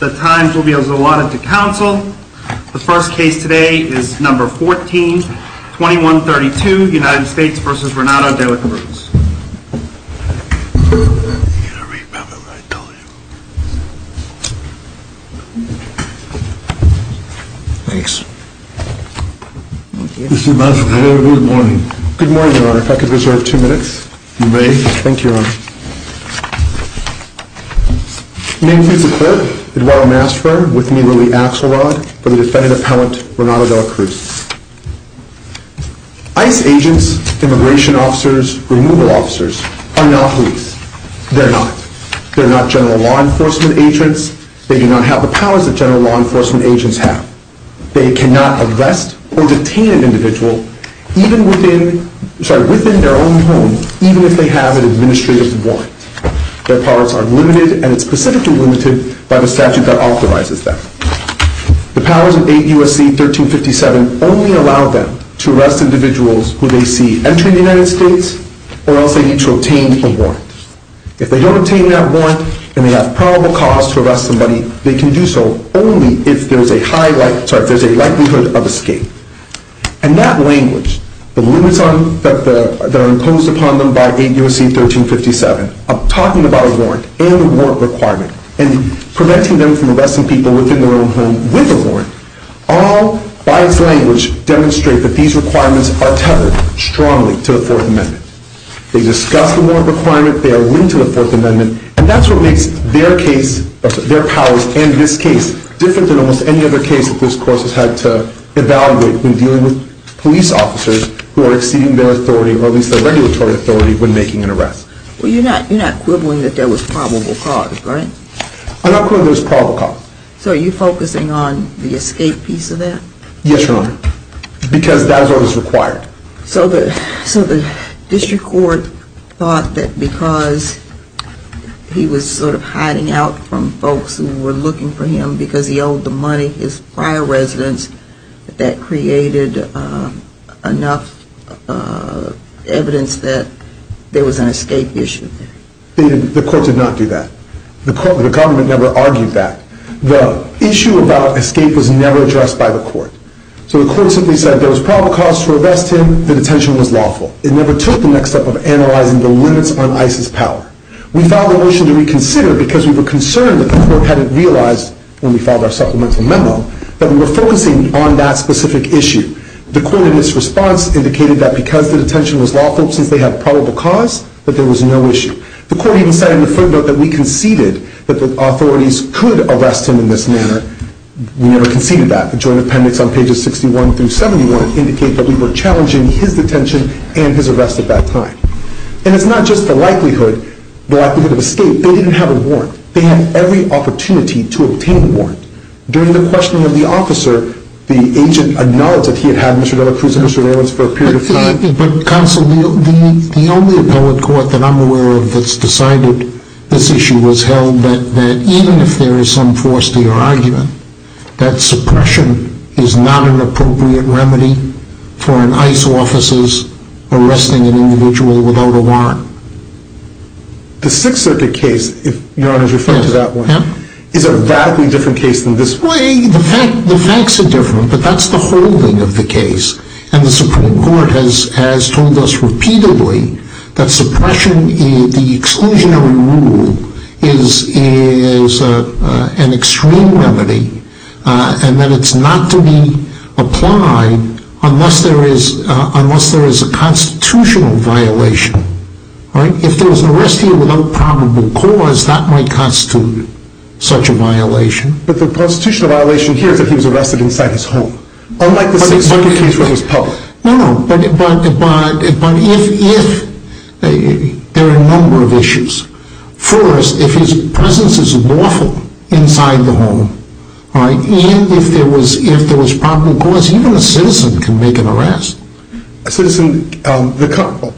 The times will be as allotted to counsel. The first case today is number 14-2132 United States v. Renato De La Cruz. You're going to remember what I told you. Thanks. Mr. Madsen, good morning. Good morning, your honor. If I could reserve two minutes. You may. Thank you, your honor. Name please, the clerk, Eduardo Masfer, with me, Lily Axelrod, for the defendant appellant, Renato De La Cruz. ICE agents, immigration officers, removal officers, are not police. They're not. They're not general law enforcement agents. They do not have the powers that general law enforcement agents have. They cannot arrest or detain an individual within their own home, even if they have an administrative warrant. Their powers are limited, and it's specifically limited by the statute that authorizes them. The powers in 8 U.S.C. 1357 only allow them to arrest individuals who they see entering the United States or else they need to obtain a warrant. If they don't obtain that warrant and they have probable cause to arrest somebody, they can do so only if there's a likelihood of escape. And that language, the limits that are imposed upon them by 8 U.S.C. 1357, talking about a warrant and a warrant requirement, and preventing them from arresting people within their own home with a warrant, all by its language demonstrate that these requirements are tethered strongly to the Fourth Amendment. They discuss the warrant requirement. They are linked to the Fourth Amendment. And that's what makes their case, their powers and this case, different than almost any other case that this Court has had to evaluate when dealing with police officers who are exceeding their authority, or at least their regulatory authority, when making an arrest. Well, you're not quibbling that there was probable cause, right? I'm not quibbling there was probable cause. So are you focusing on the escape piece of that? Yes, Your Honor, because that is what was required. So the District Court thought that because he was sort of hiding out from folks who were looking for him because he owed the money his prior residence, that that created enough evidence that there was an escape issue there? The Court did not do that. The Government never argued that. The issue about escape was never addressed by the Court. So the Court simply said there was probable cause to arrest him. The detention was lawful. It never took the next step of analyzing the limits on ICE's power. We filed a motion to reconsider because we were concerned that the Court hadn't realized, when we filed our supplemental memo, that we were focusing on that specific issue. The Court, in its response, indicated that because the detention was lawful, since they have probable cause, that there was no issue. The Court even said in the third vote that we conceded that the authorities could arrest him in this manner. We never conceded that. The Joint Appendix on pages 61 through 71 indicate that we were challenging his detention and his arrest at that time. And it's not just the likelihood of escape. They didn't have a warrant. They had every opportunity to obtain a warrant. During the questioning of the officer, the agent acknowledged that he had had Mr. Delacruz and Mr. Nellis for a period of time. Counsel, the only appellate court that I'm aware of that's decided this issue was held that even if there is some force to your argument, that suppression is not an appropriate remedy for an ICE officer's arresting an individual without a warrant. The Sixth Circuit case, if Your Honor is referring to that one, is a radically different case than this one. Well, the facts are different, but that's the whole thing of the case. And the Supreme Court has told us repeatedly that suppression, the exclusionary rule, is an extreme remedy, and that it's not to be applied unless there is a constitutional violation. If there was an arrest here without probable cause, that might constitute such a violation. But the constitutional violation here is that he was arrested inside his home, unlike the Sixth Circuit case where he was public. No, no, but if there are a number of issues. First, if his presence is lawful inside the home, and if there was probable cause, even a citizen can make an arrest. A citizen,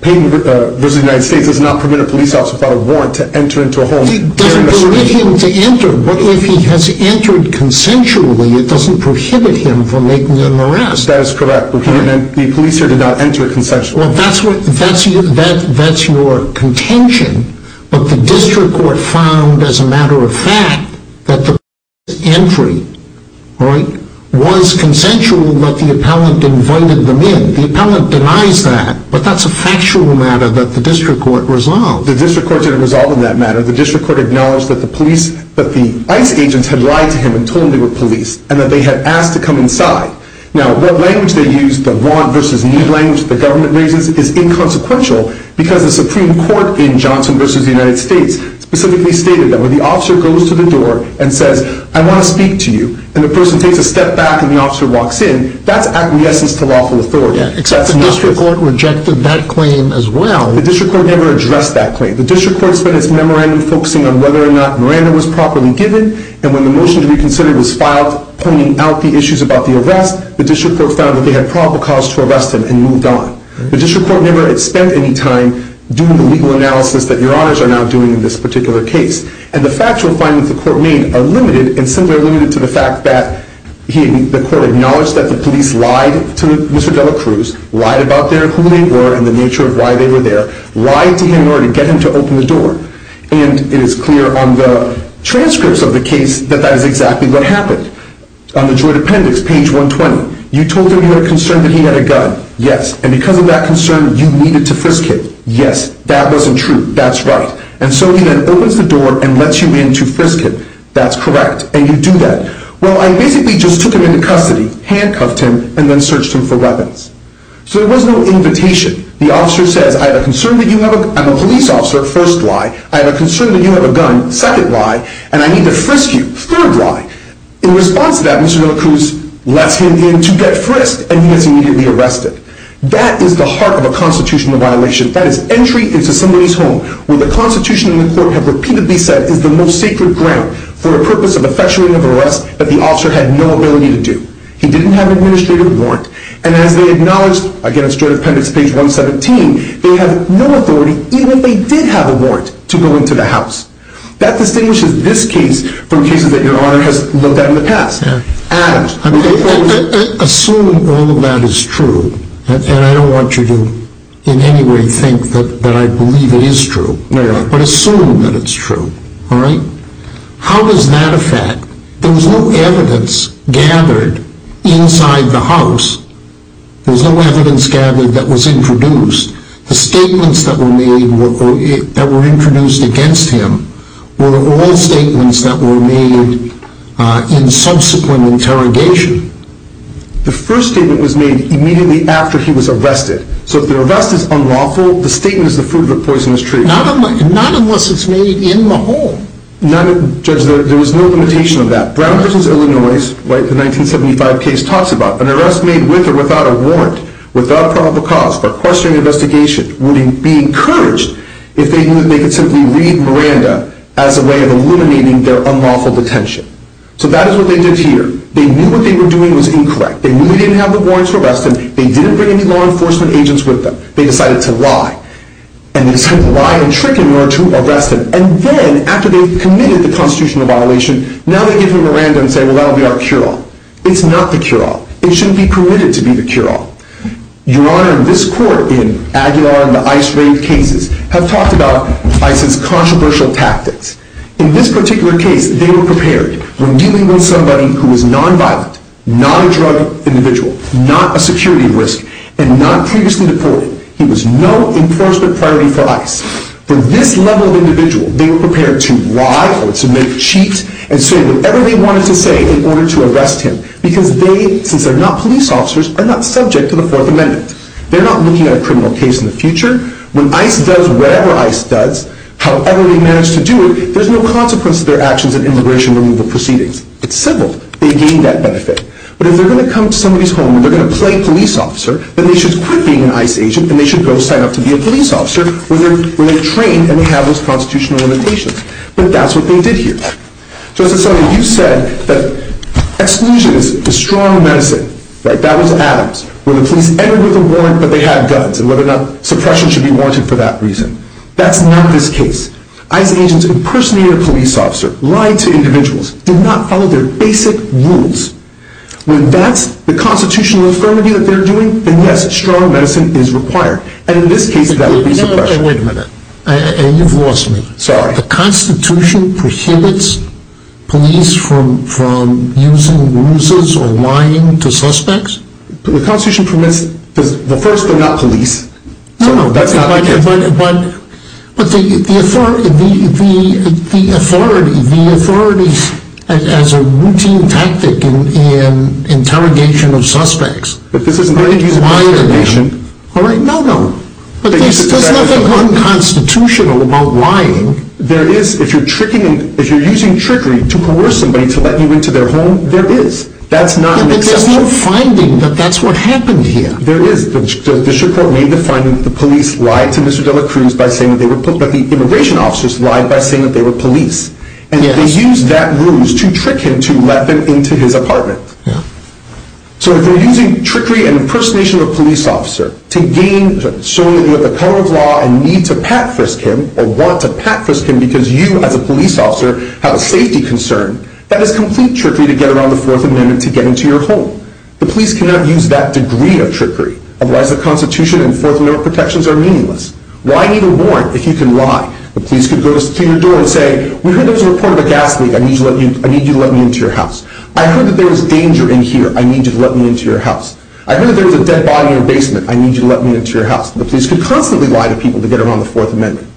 paying a visit to the United States does not permit a police officer without a warrant to enter into a home. It doesn't permit him to enter, but if he has entered consensually, it doesn't prohibit him from making an arrest. That is correct. The police here did not enter consensually. Well, that's your contention. But the District Court found, as a matter of fact, that the police's entry was consensual, but the appellant invited them in. The appellant denies that, but that's a factual matter that the District Court resolved. Well, the District Court didn't resolve on that matter. The District Court acknowledged that the ICE agents had lied to him and told him they were police, and that they had asked to come inside. Now, what language they used, the want-versus-need language the government raises, is inconsequential, because the Supreme Court in Johnson v. The United States specifically stated that when the officer goes to the door and says, I want to speak to you, and the person takes a step back and the officer walks in, that's acquiescence to lawful authority. Except the District Court rejected that claim as well. The District Court never addressed that claim. The District Court spent its memorandum focusing on whether or not Miranda was properly given, and when the motion to reconsider was filed pointing out the issues about the arrest, the District Court found that they had probable cause to arrest him and moved on. The District Court never spent any time doing the legal analysis that Your Honors are now doing in this particular case. And the factual findings the Court made are limited, and simply are limited to the fact that the Court acknowledged that the police lied to Mr. Delacruz, lied about who they were and the nature of why they were there, lied to him in order to get him to open the door. And it is clear on the transcripts of the case that that is exactly what happened. On the Droid Appendix, page 120, you told him you had a concern that he had a gun. Yes. And because of that concern, you needed to frisk him. Yes. That wasn't true. That's right. And so he then opens the door and lets you in to frisk him. That's correct. And you do that. Well, I basically just took him into custody, handcuffed him, and then searched him for weapons. So there was no invitation. The officer says, I have a concern that you have a gun. I'm a police officer. First lie. I have a concern that you have a gun. Second lie. And I need to frisk you. Third lie. In response to that, Mr. Delacruz lets him in to get frisked, and he gets immediately arrested. That is the heart of a constitutional violation. That is entry into somebody's home, where the Constitution and the court have repeatedly said is the most sacred ground for a purpose of effectuating of arrest that the officer had no ability to do. He didn't have an administrative warrant. And as they acknowledged, again, it's Droid Appendix, page 117, they have no authority, even if they did have a warrant, to go into the house. That distinguishes this case from cases that Your Honor has looked at in the past. Assuming all of that is true, and I don't want you to in any way think that I believe it is true, but assume that it's true, all right? How does that affect? There was no evidence gathered inside the house. There was no evidence gathered that was introduced. The statements that were introduced against him were all statements that were made in subsequent interrogation. The first statement was made immediately after he was arrested. So if the arrest is unlawful, the statement is the fruit of a poisonous tree. Not unless it's made in the home. Judge, there was no limitation of that. Brown v. Illinois, the 1975 case, talks about an arrest made with or without a warrant, without probable cause, for question and investigation, would be encouraged if they knew that they could simply read Miranda as a way of eliminating their unlawful detention. So that is what they did here. They knew what they were doing was incorrect. They knew they didn't have the warrant to arrest him. They didn't bring any law enforcement agents with them. They decided to lie. And they decided to lie and trick him in order to arrest him. And then, after they've committed the constitutional violation, now they give him Miranda and say, well, that'll be our cure-all. It's not the cure-all. It shouldn't be permitted to be the cure-all. Your Honor, this Court, in Aguilar and the ICE-raped cases, have talked about ICE's controversial tactics. In this particular case, they were prepared. When dealing with somebody who was non-violent, non-drug individual, not a security risk, and not previously deported, he was no enforcement priority for ICE. For this level of individual, they were prepared to lie, or to make cheat, and say whatever they wanted to say in order to arrest him. Because they, since they're not police officers, are not subject to the Fourth Amendment. They're not looking at a criminal case in the future. When ICE does whatever ICE does, however they manage to do it, there's no consequence to their actions in immigration removal proceedings. It's civil. They gain that benefit. But if they're going to come to somebody's home and they're going to play police officer, then they should quit being an ICE agent and they should go sign up to be a police officer when they're trained and have those constitutional limitations. But that's what they did here. Justice Sotomayor, you said that exclusion is the strong medicine. That was Adams. When the police entered with a warrant but they had guns, and whether or not suppression should be warranted for that reason. That's not this case. ICE agents impersonated a police officer, lied to individuals, did not follow their basic rules. When that's the constitutional infirmity that they're doing, then yes, strong medicine is required. And in this case, that would be suppression. Wait a minute. You've lost me. Sorry. The Constitution prohibits police from using ruses or lying to suspects? The Constitution permits the first, but not police. No, no. That's not the case. But the authority, the authority as a routine tactic in interrogation of suspects. But this isn't the case. All right. No, no. But there's nothing unconstitutional about lying. There is. If you're using trickery to coerce somebody to let you into their home, there is. That's not an exception. But there's no finding that that's what happened here. There is. This report made the finding that the police lied to Mr. De La Cruz by saying that they were police. But the immigration officers lied by saying that they were police. And they used that ruse to trick him to let them into his apartment. So if they're using trickery and impersonation of a police officer to show that you have the power of law and need to pat-frisk him or want to pat-frisk him because you, as a police officer, have a safety concern, that is complete trickery to get around the Fourth Amendment to get into your home. The police cannot use that degree of trickery. Otherwise, the Constitution and Fourth Amendment protections are meaningless. Why even warn if you can lie? The police could go to your door and say, we heard there was a report of a gas leak. I need you to let me into your house. I heard that there was danger in here. I need you to let me into your house. I heard there was a dead body in your basement. I need you to let me into your house. The police could constantly lie to people to get around the Fourth Amendment.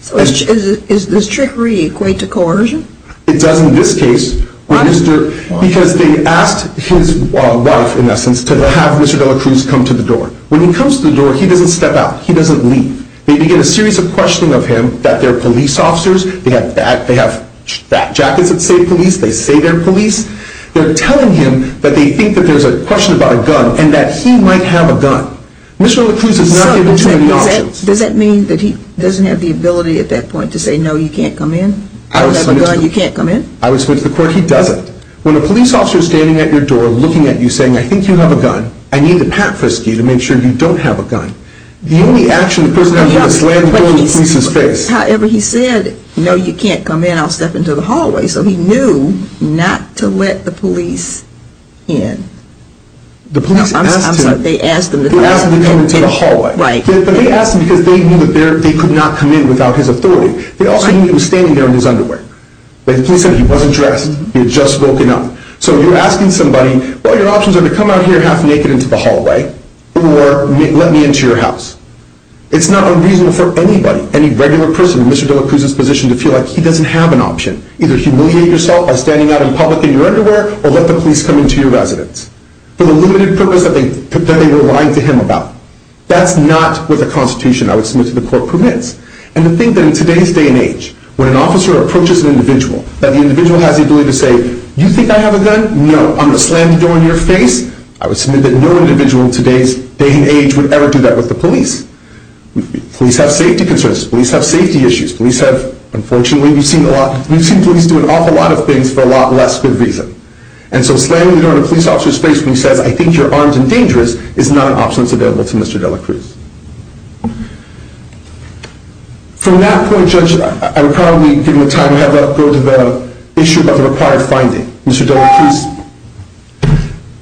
So is this trickery equated to coercion? It does in this case. Why? Because they asked his wife, in essence, to have Mr. De La Cruz come to the door. When he comes to the door, he doesn't step out. He doesn't leave. They begin a series of questioning of him that they're police officers. They have jackets that say police. They say they're police. They're telling him that they think that there's a question about a gun and that he might have a gun. Mr. De La Cruz is not given too many options. So does that mean that he doesn't have the ability at that point to say, no, you can't come in? I would submit to the court he doesn't. When a police officer is standing at your door looking at you saying, I think you have a gun. I need to pat frisky to make sure you don't have a gun. The only action the person has is slam the door in the police's face. However he said, no, you can't come in. I'll step into the hallway. So he knew not to let the police in. The police asked him to come into the hallway. But they asked him because they knew they could not come in without his authority. They also knew he was standing there in his underwear. The police said he wasn't dressed. He had just woken up. So you're asking somebody, well, your options are to come out here half naked into the hallway or let me into your house. It's not unreasonable for anybody, any regular person in Mr. De La Cruz's situation to feel like he doesn't have an option. Either humiliate yourself by standing out in public in your underwear or let the police come into your residence. For the limited purpose that they were lying to him about. That's not what the Constitution, I would submit to the court, permits. And to think that in today's day and age, when an officer approaches an individual, that the individual has the ability to say, you think I have a gun? No. I'm going to slam the door in your face. I would submit that no individual in today's day and age would ever do that with the police. Police have safety concerns. Police have safety issues. Police have, unfortunately, we've seen police do an awful lot of things for a lot less good reason. And so slamming the door in a police officer's face when he says, I think you're armed and dangerous, is not an option that's available to Mr. De La Cruz. From that point, Judge, I'm probably giving the time to have that go to the issue of the required finding. Mr. De La Cruz.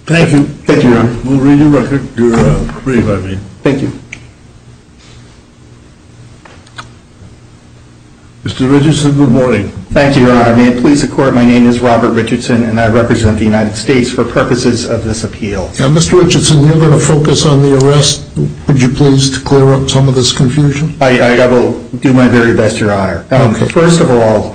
Thank you. Thank you, Your Honor. We'll read your record. Read it by me. Thank you. Mr. Richardson, good morning. Thank you, Your Honor. May it please the Court, my name is Robert Richardson, and I represent the United States for purposes of this appeal. Mr. Richardson, we're going to focus on the arrest. Would you please clear up some of this confusion? I will do my very best, Your Honor. First of all,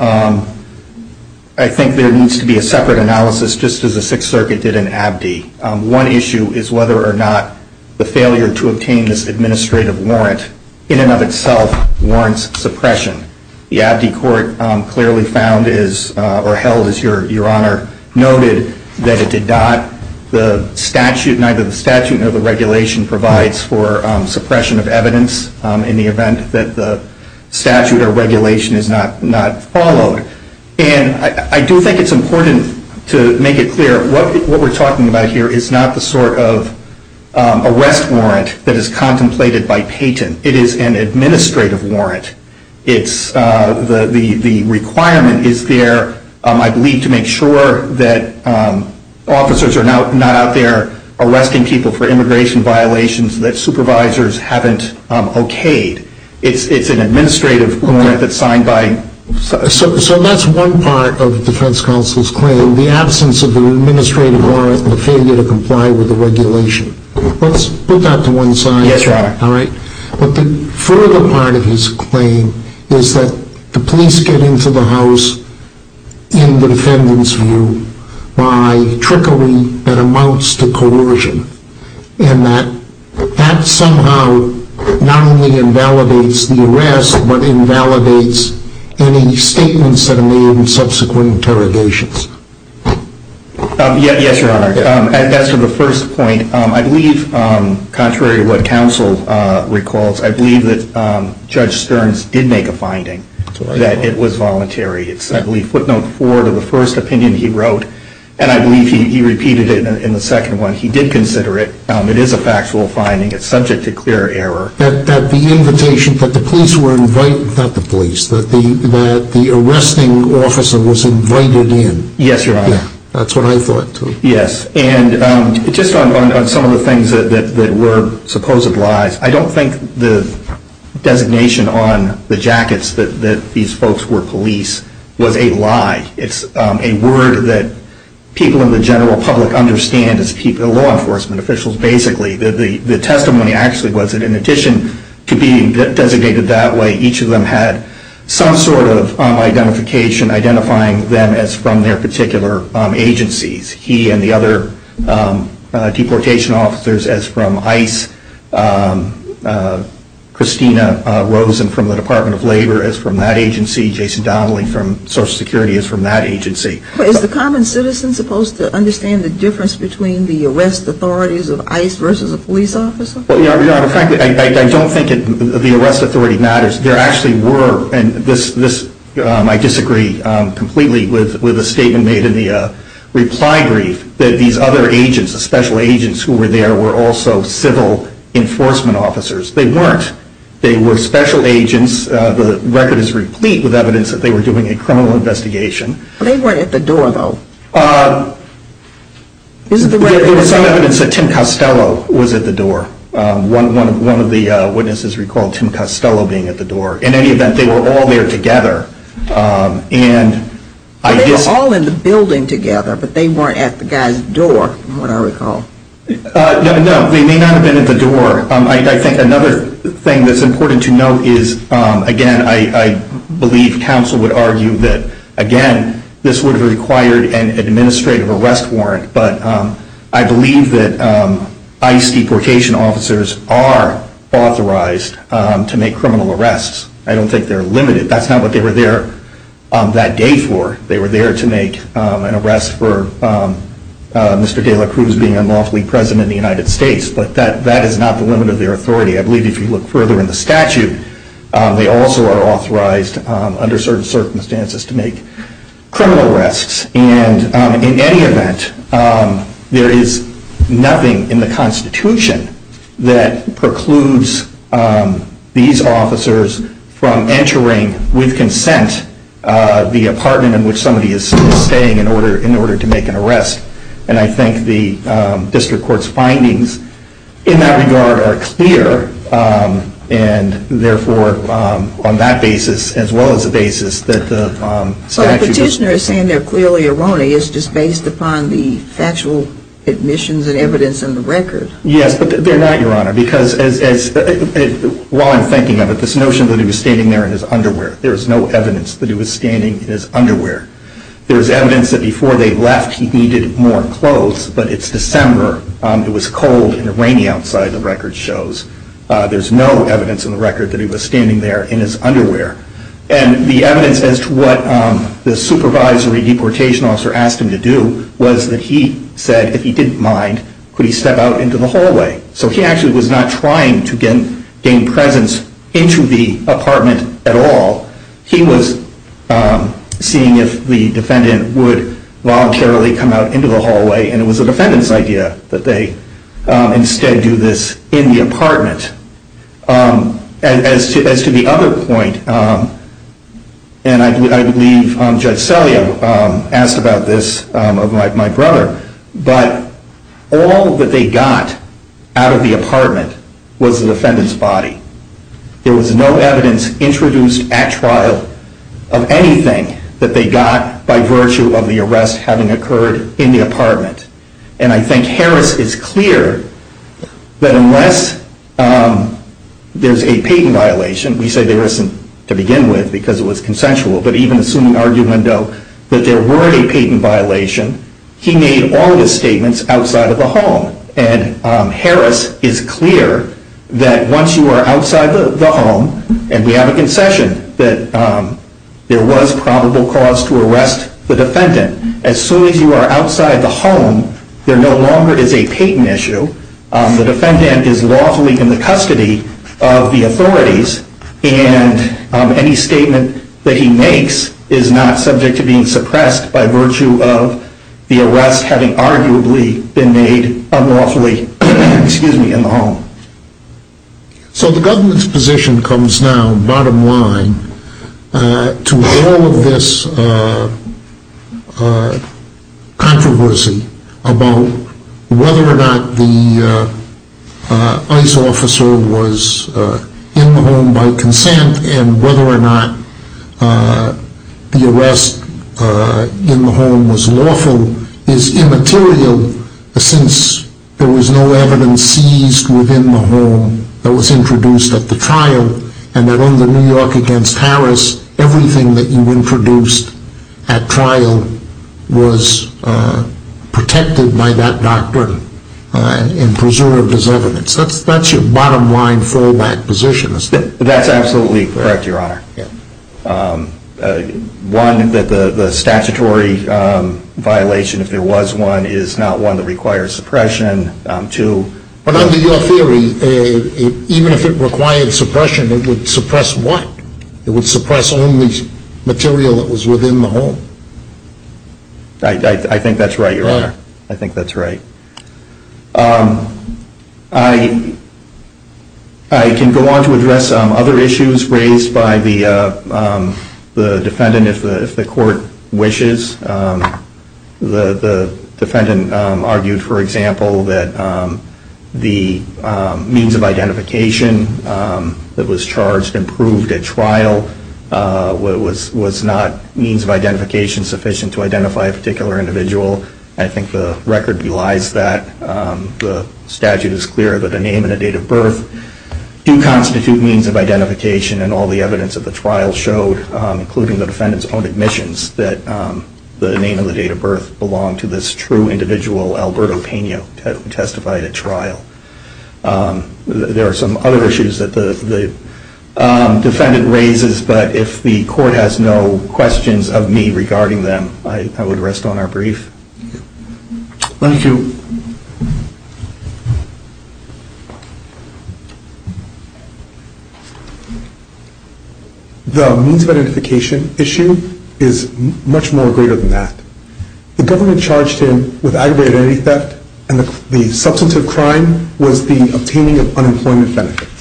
I think there needs to be a separate analysis, just as the Sixth Circuit did in Abdee. One issue is whether or not the failure to obtain this administrative warrant in and of itself warrants suppression. The Abdee Court clearly found or held, as Your Honor noted, that it did not, the statute, neither the statute nor the regulation provides for suppression of evidence in the event that the statute or regulation is not followed. And I do think it's important to make it clear. What we're talking about here is not the sort of arrest warrant that is contemplated by Patent. It is an administrative warrant. The requirement is there, I believe, to make sure that officers are not out there arresting people for immigration violations that supervisors haven't okayed. It's an administrative warrant that's signed by... So that's one part of the defense counsel's claim, the absence of an administrative warrant and the failure to comply with the regulation. Let's put that to one side. Yes, Your Honor. All right? But the further part of his claim is that the police get into the house, in the defendant's view, by trickery that amounts to coercion. And that that somehow not only invalidates the arrest, but invalidates any statements that are made in subsequent interrogations. Yes, Your Honor. As to the first point, I believe, contrary to what counsel recalls, I believe that Judge Stearns did make a finding that it was voluntary. It's, I believe, footnote four to the first opinion he wrote. And I believe he repeated it in the second one. He did consider it. It is a factual finding. It's subject to clear error. That the invitation, that the police were invited, not the police, that the arresting officer was invited in. Yes, Your Honor. That's what I thought, too. Yes. And just on some of the things that were supposed lies, I don't think the designation on the jackets that these folks were police was a lie. It's a word that people in the general public understand as law enforcement officials, basically. The testimony actually was that in addition to being designated that way, each of them had some sort of identification identifying them as from their particular agencies. He and the other deportation officers as from ICE, Christina Rosen from the Department of Labor as from that agency, Jason Donnelly from Social Security as from that agency. Is the common citizen supposed to understand the difference between the arrest authorities of ICE versus a police officer? Well, Your Honor, frankly, I don't think the arrest authority matters. There actually were, and this I disagree completely with the statement made in the reply brief, that these other agents, the special agents who were there were also civil enforcement officers. They weren't. They were special agents. The record is replete with evidence that they were doing a criminal investigation. They weren't at the door, though. There was some evidence that Tim Costello was at the door. One of the witnesses recalled Tim Costello being at the door. In any event, they were all there together. They were all in the building together, but they weren't at the guy's door, from what I recall. No, they may not have been at the door. I think another thing that's important to note is, again, I believe counsel would argue that, again, this would have required an administrative arrest warrant, but I believe that ICE deportation officers are authorized to make criminal arrests. I don't think they're limited. That's not what they were there that day for. They were there to make an arrest for Mr. De La Cruz being unlawfully president of the United States, but that is not the limit of their authority. I believe if you look further in the statute, they also are authorized under certain circumstances to make criminal arrests. And in any event, there is nothing in the Constitution that precludes these officers from entering, with consent, the apartment in which somebody is staying in order to make an arrest. And I think the district court's findings in that regard are clear, and therefore on that basis as well as the basis that the statute does not... But the petitioner is saying they're clearly erroneous just based upon the factual admissions and evidence in the record. Yes, but they're not, Your Honor, because while I'm thinking of it, this notion that he was standing there in his underwear, there's evidence that before they left he needed more clothes, but it's December, it was cold and rainy outside, the record shows. There's no evidence in the record that he was standing there in his underwear. And the evidence as to what the supervisory deportation officer asked him to do was that he said if he didn't mind, could he step out into the hallway? So he actually was not trying to gain presence into the apartment at all. He was seeing if the defendant would voluntarily come out into the hallway, and it was the defendant's idea that they instead do this in the apartment. As to the other point, and I believe Judge Selye asked about this, of my brother, but all that they got out of the apartment was the defendant's body. There was no evidence introduced at trial of anything that they got by virtue of the arrest having occurred in the apartment. And I think Harris is clear that unless there's a patent violation, we say there isn't to begin with because it was consensual, but even assuming argument though that there were a patent violation, he made all the statements outside of the home. And Harris is clear that once you are outside the home, and we have a concession that there was probable cause to arrest the defendant, as soon as you are outside the home, there no longer is a patent issue. The defendant is lawfully in the custody of the authorities, and any statement that he makes is not subject to being suppressed by virtue of the arrest having arguably been made unlawfully in the home. So the government's position comes now, bottom line, to all of this controversy about whether or not the ICE officer was in the home by consent and whether or not the arrest in the home was lawful is immaterial since there was no evidence seized within the home that was introduced at the trial and that under New York against Harris, everything that you introduced at trial was protected by that doctrine and preserved as evidence. That's your bottom line fallback position. That's absolutely correct, Your Honor. One, that the statutory violation, if there was one, is not one that requires suppression. But under your theory, even if it required suppression, it would suppress what? It would suppress only material that was within the home. I think that's right, Your Honor. I think that's right. I can go on to address other issues raised by the defendant if the court wishes. The defendant argued, for example, that the means of identification that was charged and proved at trial was not means of identification sufficient to identify a particular individual. I think the record belies that. The statute is clear that a name and a date of birth do constitute means of identification and all the evidence at the trial showed, including the defendant's own admissions, that the name and the date of birth belonged to this true individual, Alberto Peña, who testified at trial. There are some other issues that the defendant raises, but if the court has no questions of me regarding them, I would rest on our brief. Thank you. The means of identification issue is much more greater than that. The government charged him with aggravated identity theft, and the substantive crime was the obtaining of unemployment benefits.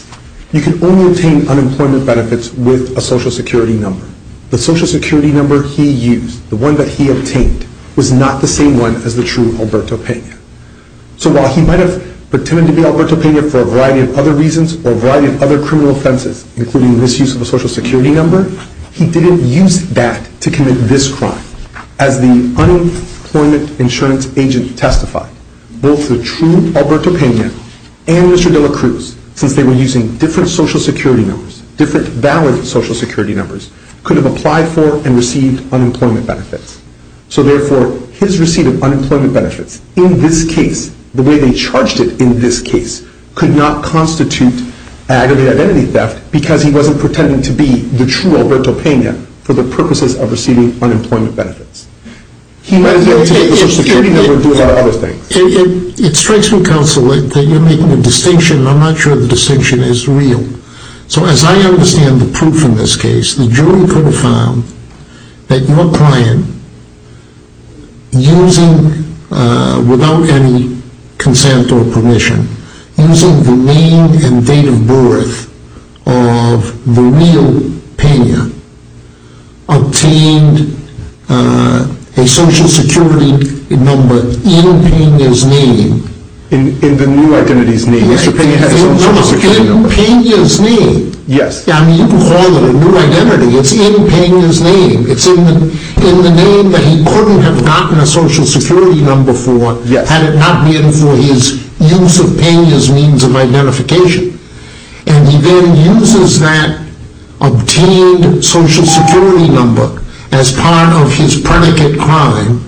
You can only obtain unemployment benefits with a Social Security number. The Social Security number he used, the one that he obtained, was not the same one as the true Alberto Peña. So while he might have pretended to be Alberto Peña for a variety of other reasons or a variety of other criminal offenses, including misuse of a Social Security number, he didn't use that to commit this crime. As the unemployment insurance agent testified, both the true Alberto Peña and Mr. de la Cruz, since they were using different Social Security numbers, different valid Social Security numbers, could have applied for and received unemployment benefits. So therefore, his receipt of unemployment benefits in this case, the way they charged it in this case, could not constitute aggravated identity theft because he wasn't pretending to be the true Alberto Peña for the purposes of receiving unemployment benefits. He might have been able to get the Social Security number and do a lot of other things. It strikes me, counsel, that you're making a distinction and I'm not sure the distinction is real. So as I understand the proof in this case, the jury could have found that your client, without any consent or permission, using the name and date of birth of the real Peña, obtained a Social Security number in Peña's name. In the new identity's name. Mr. Peña had his own Social Security number. In Peña's name. Yes. You can call it a new identity. It's in Peña's name. It's in the name that he couldn't have gotten a Social Security number for, had it not been for his use of Peña's means of identification. And he then uses that obtained Social Security number as part of his predicate crime,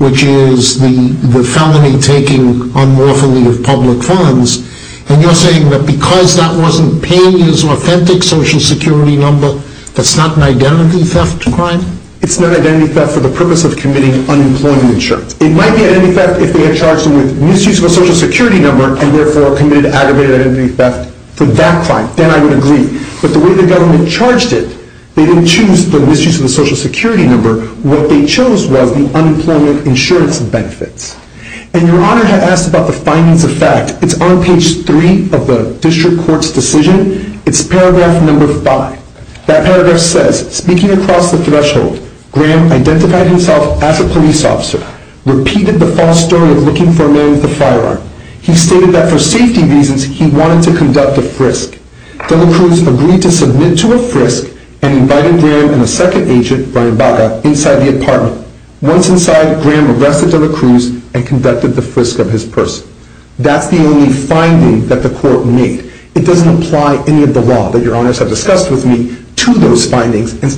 which is the felony taking unlawfully of public funds. And you're saying that because that wasn't Peña's authentic Social Security number, that's not an identity theft crime? It's not identity theft for the purpose of committing unemployment insurance. It might be identity theft if they had charged him with misuse of a Social Security number and therefore committed aggravated identity theft for that crime. Then I would agree. But the way the government charged it, they didn't choose the misuse of the Social Security number. What they chose was the unemployment insurance benefits. And Your Honor had asked about the findings of fact. It's on page 3 of the District Court's decision. It's paragraph number 5. That paragraph says, Speaking across the threshold, Graham identified himself as a police officer, repeated the false story of looking for a man with a firearm. He stated that for safety reasons, he wanted to conduct a frisk. De La Cruz agreed to submit to a frisk and invited Graham and a second agent, Brian Baca, inside the apartment. Once inside, Graham arrested De La Cruz and conducted the frisk of his person. That's the only finding that the court made. It doesn't apply any of the law that Your Honors have discussed with me to those findings, The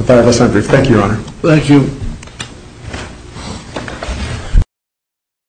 five of us are briefed. Thank you, Your Honor. Thank you.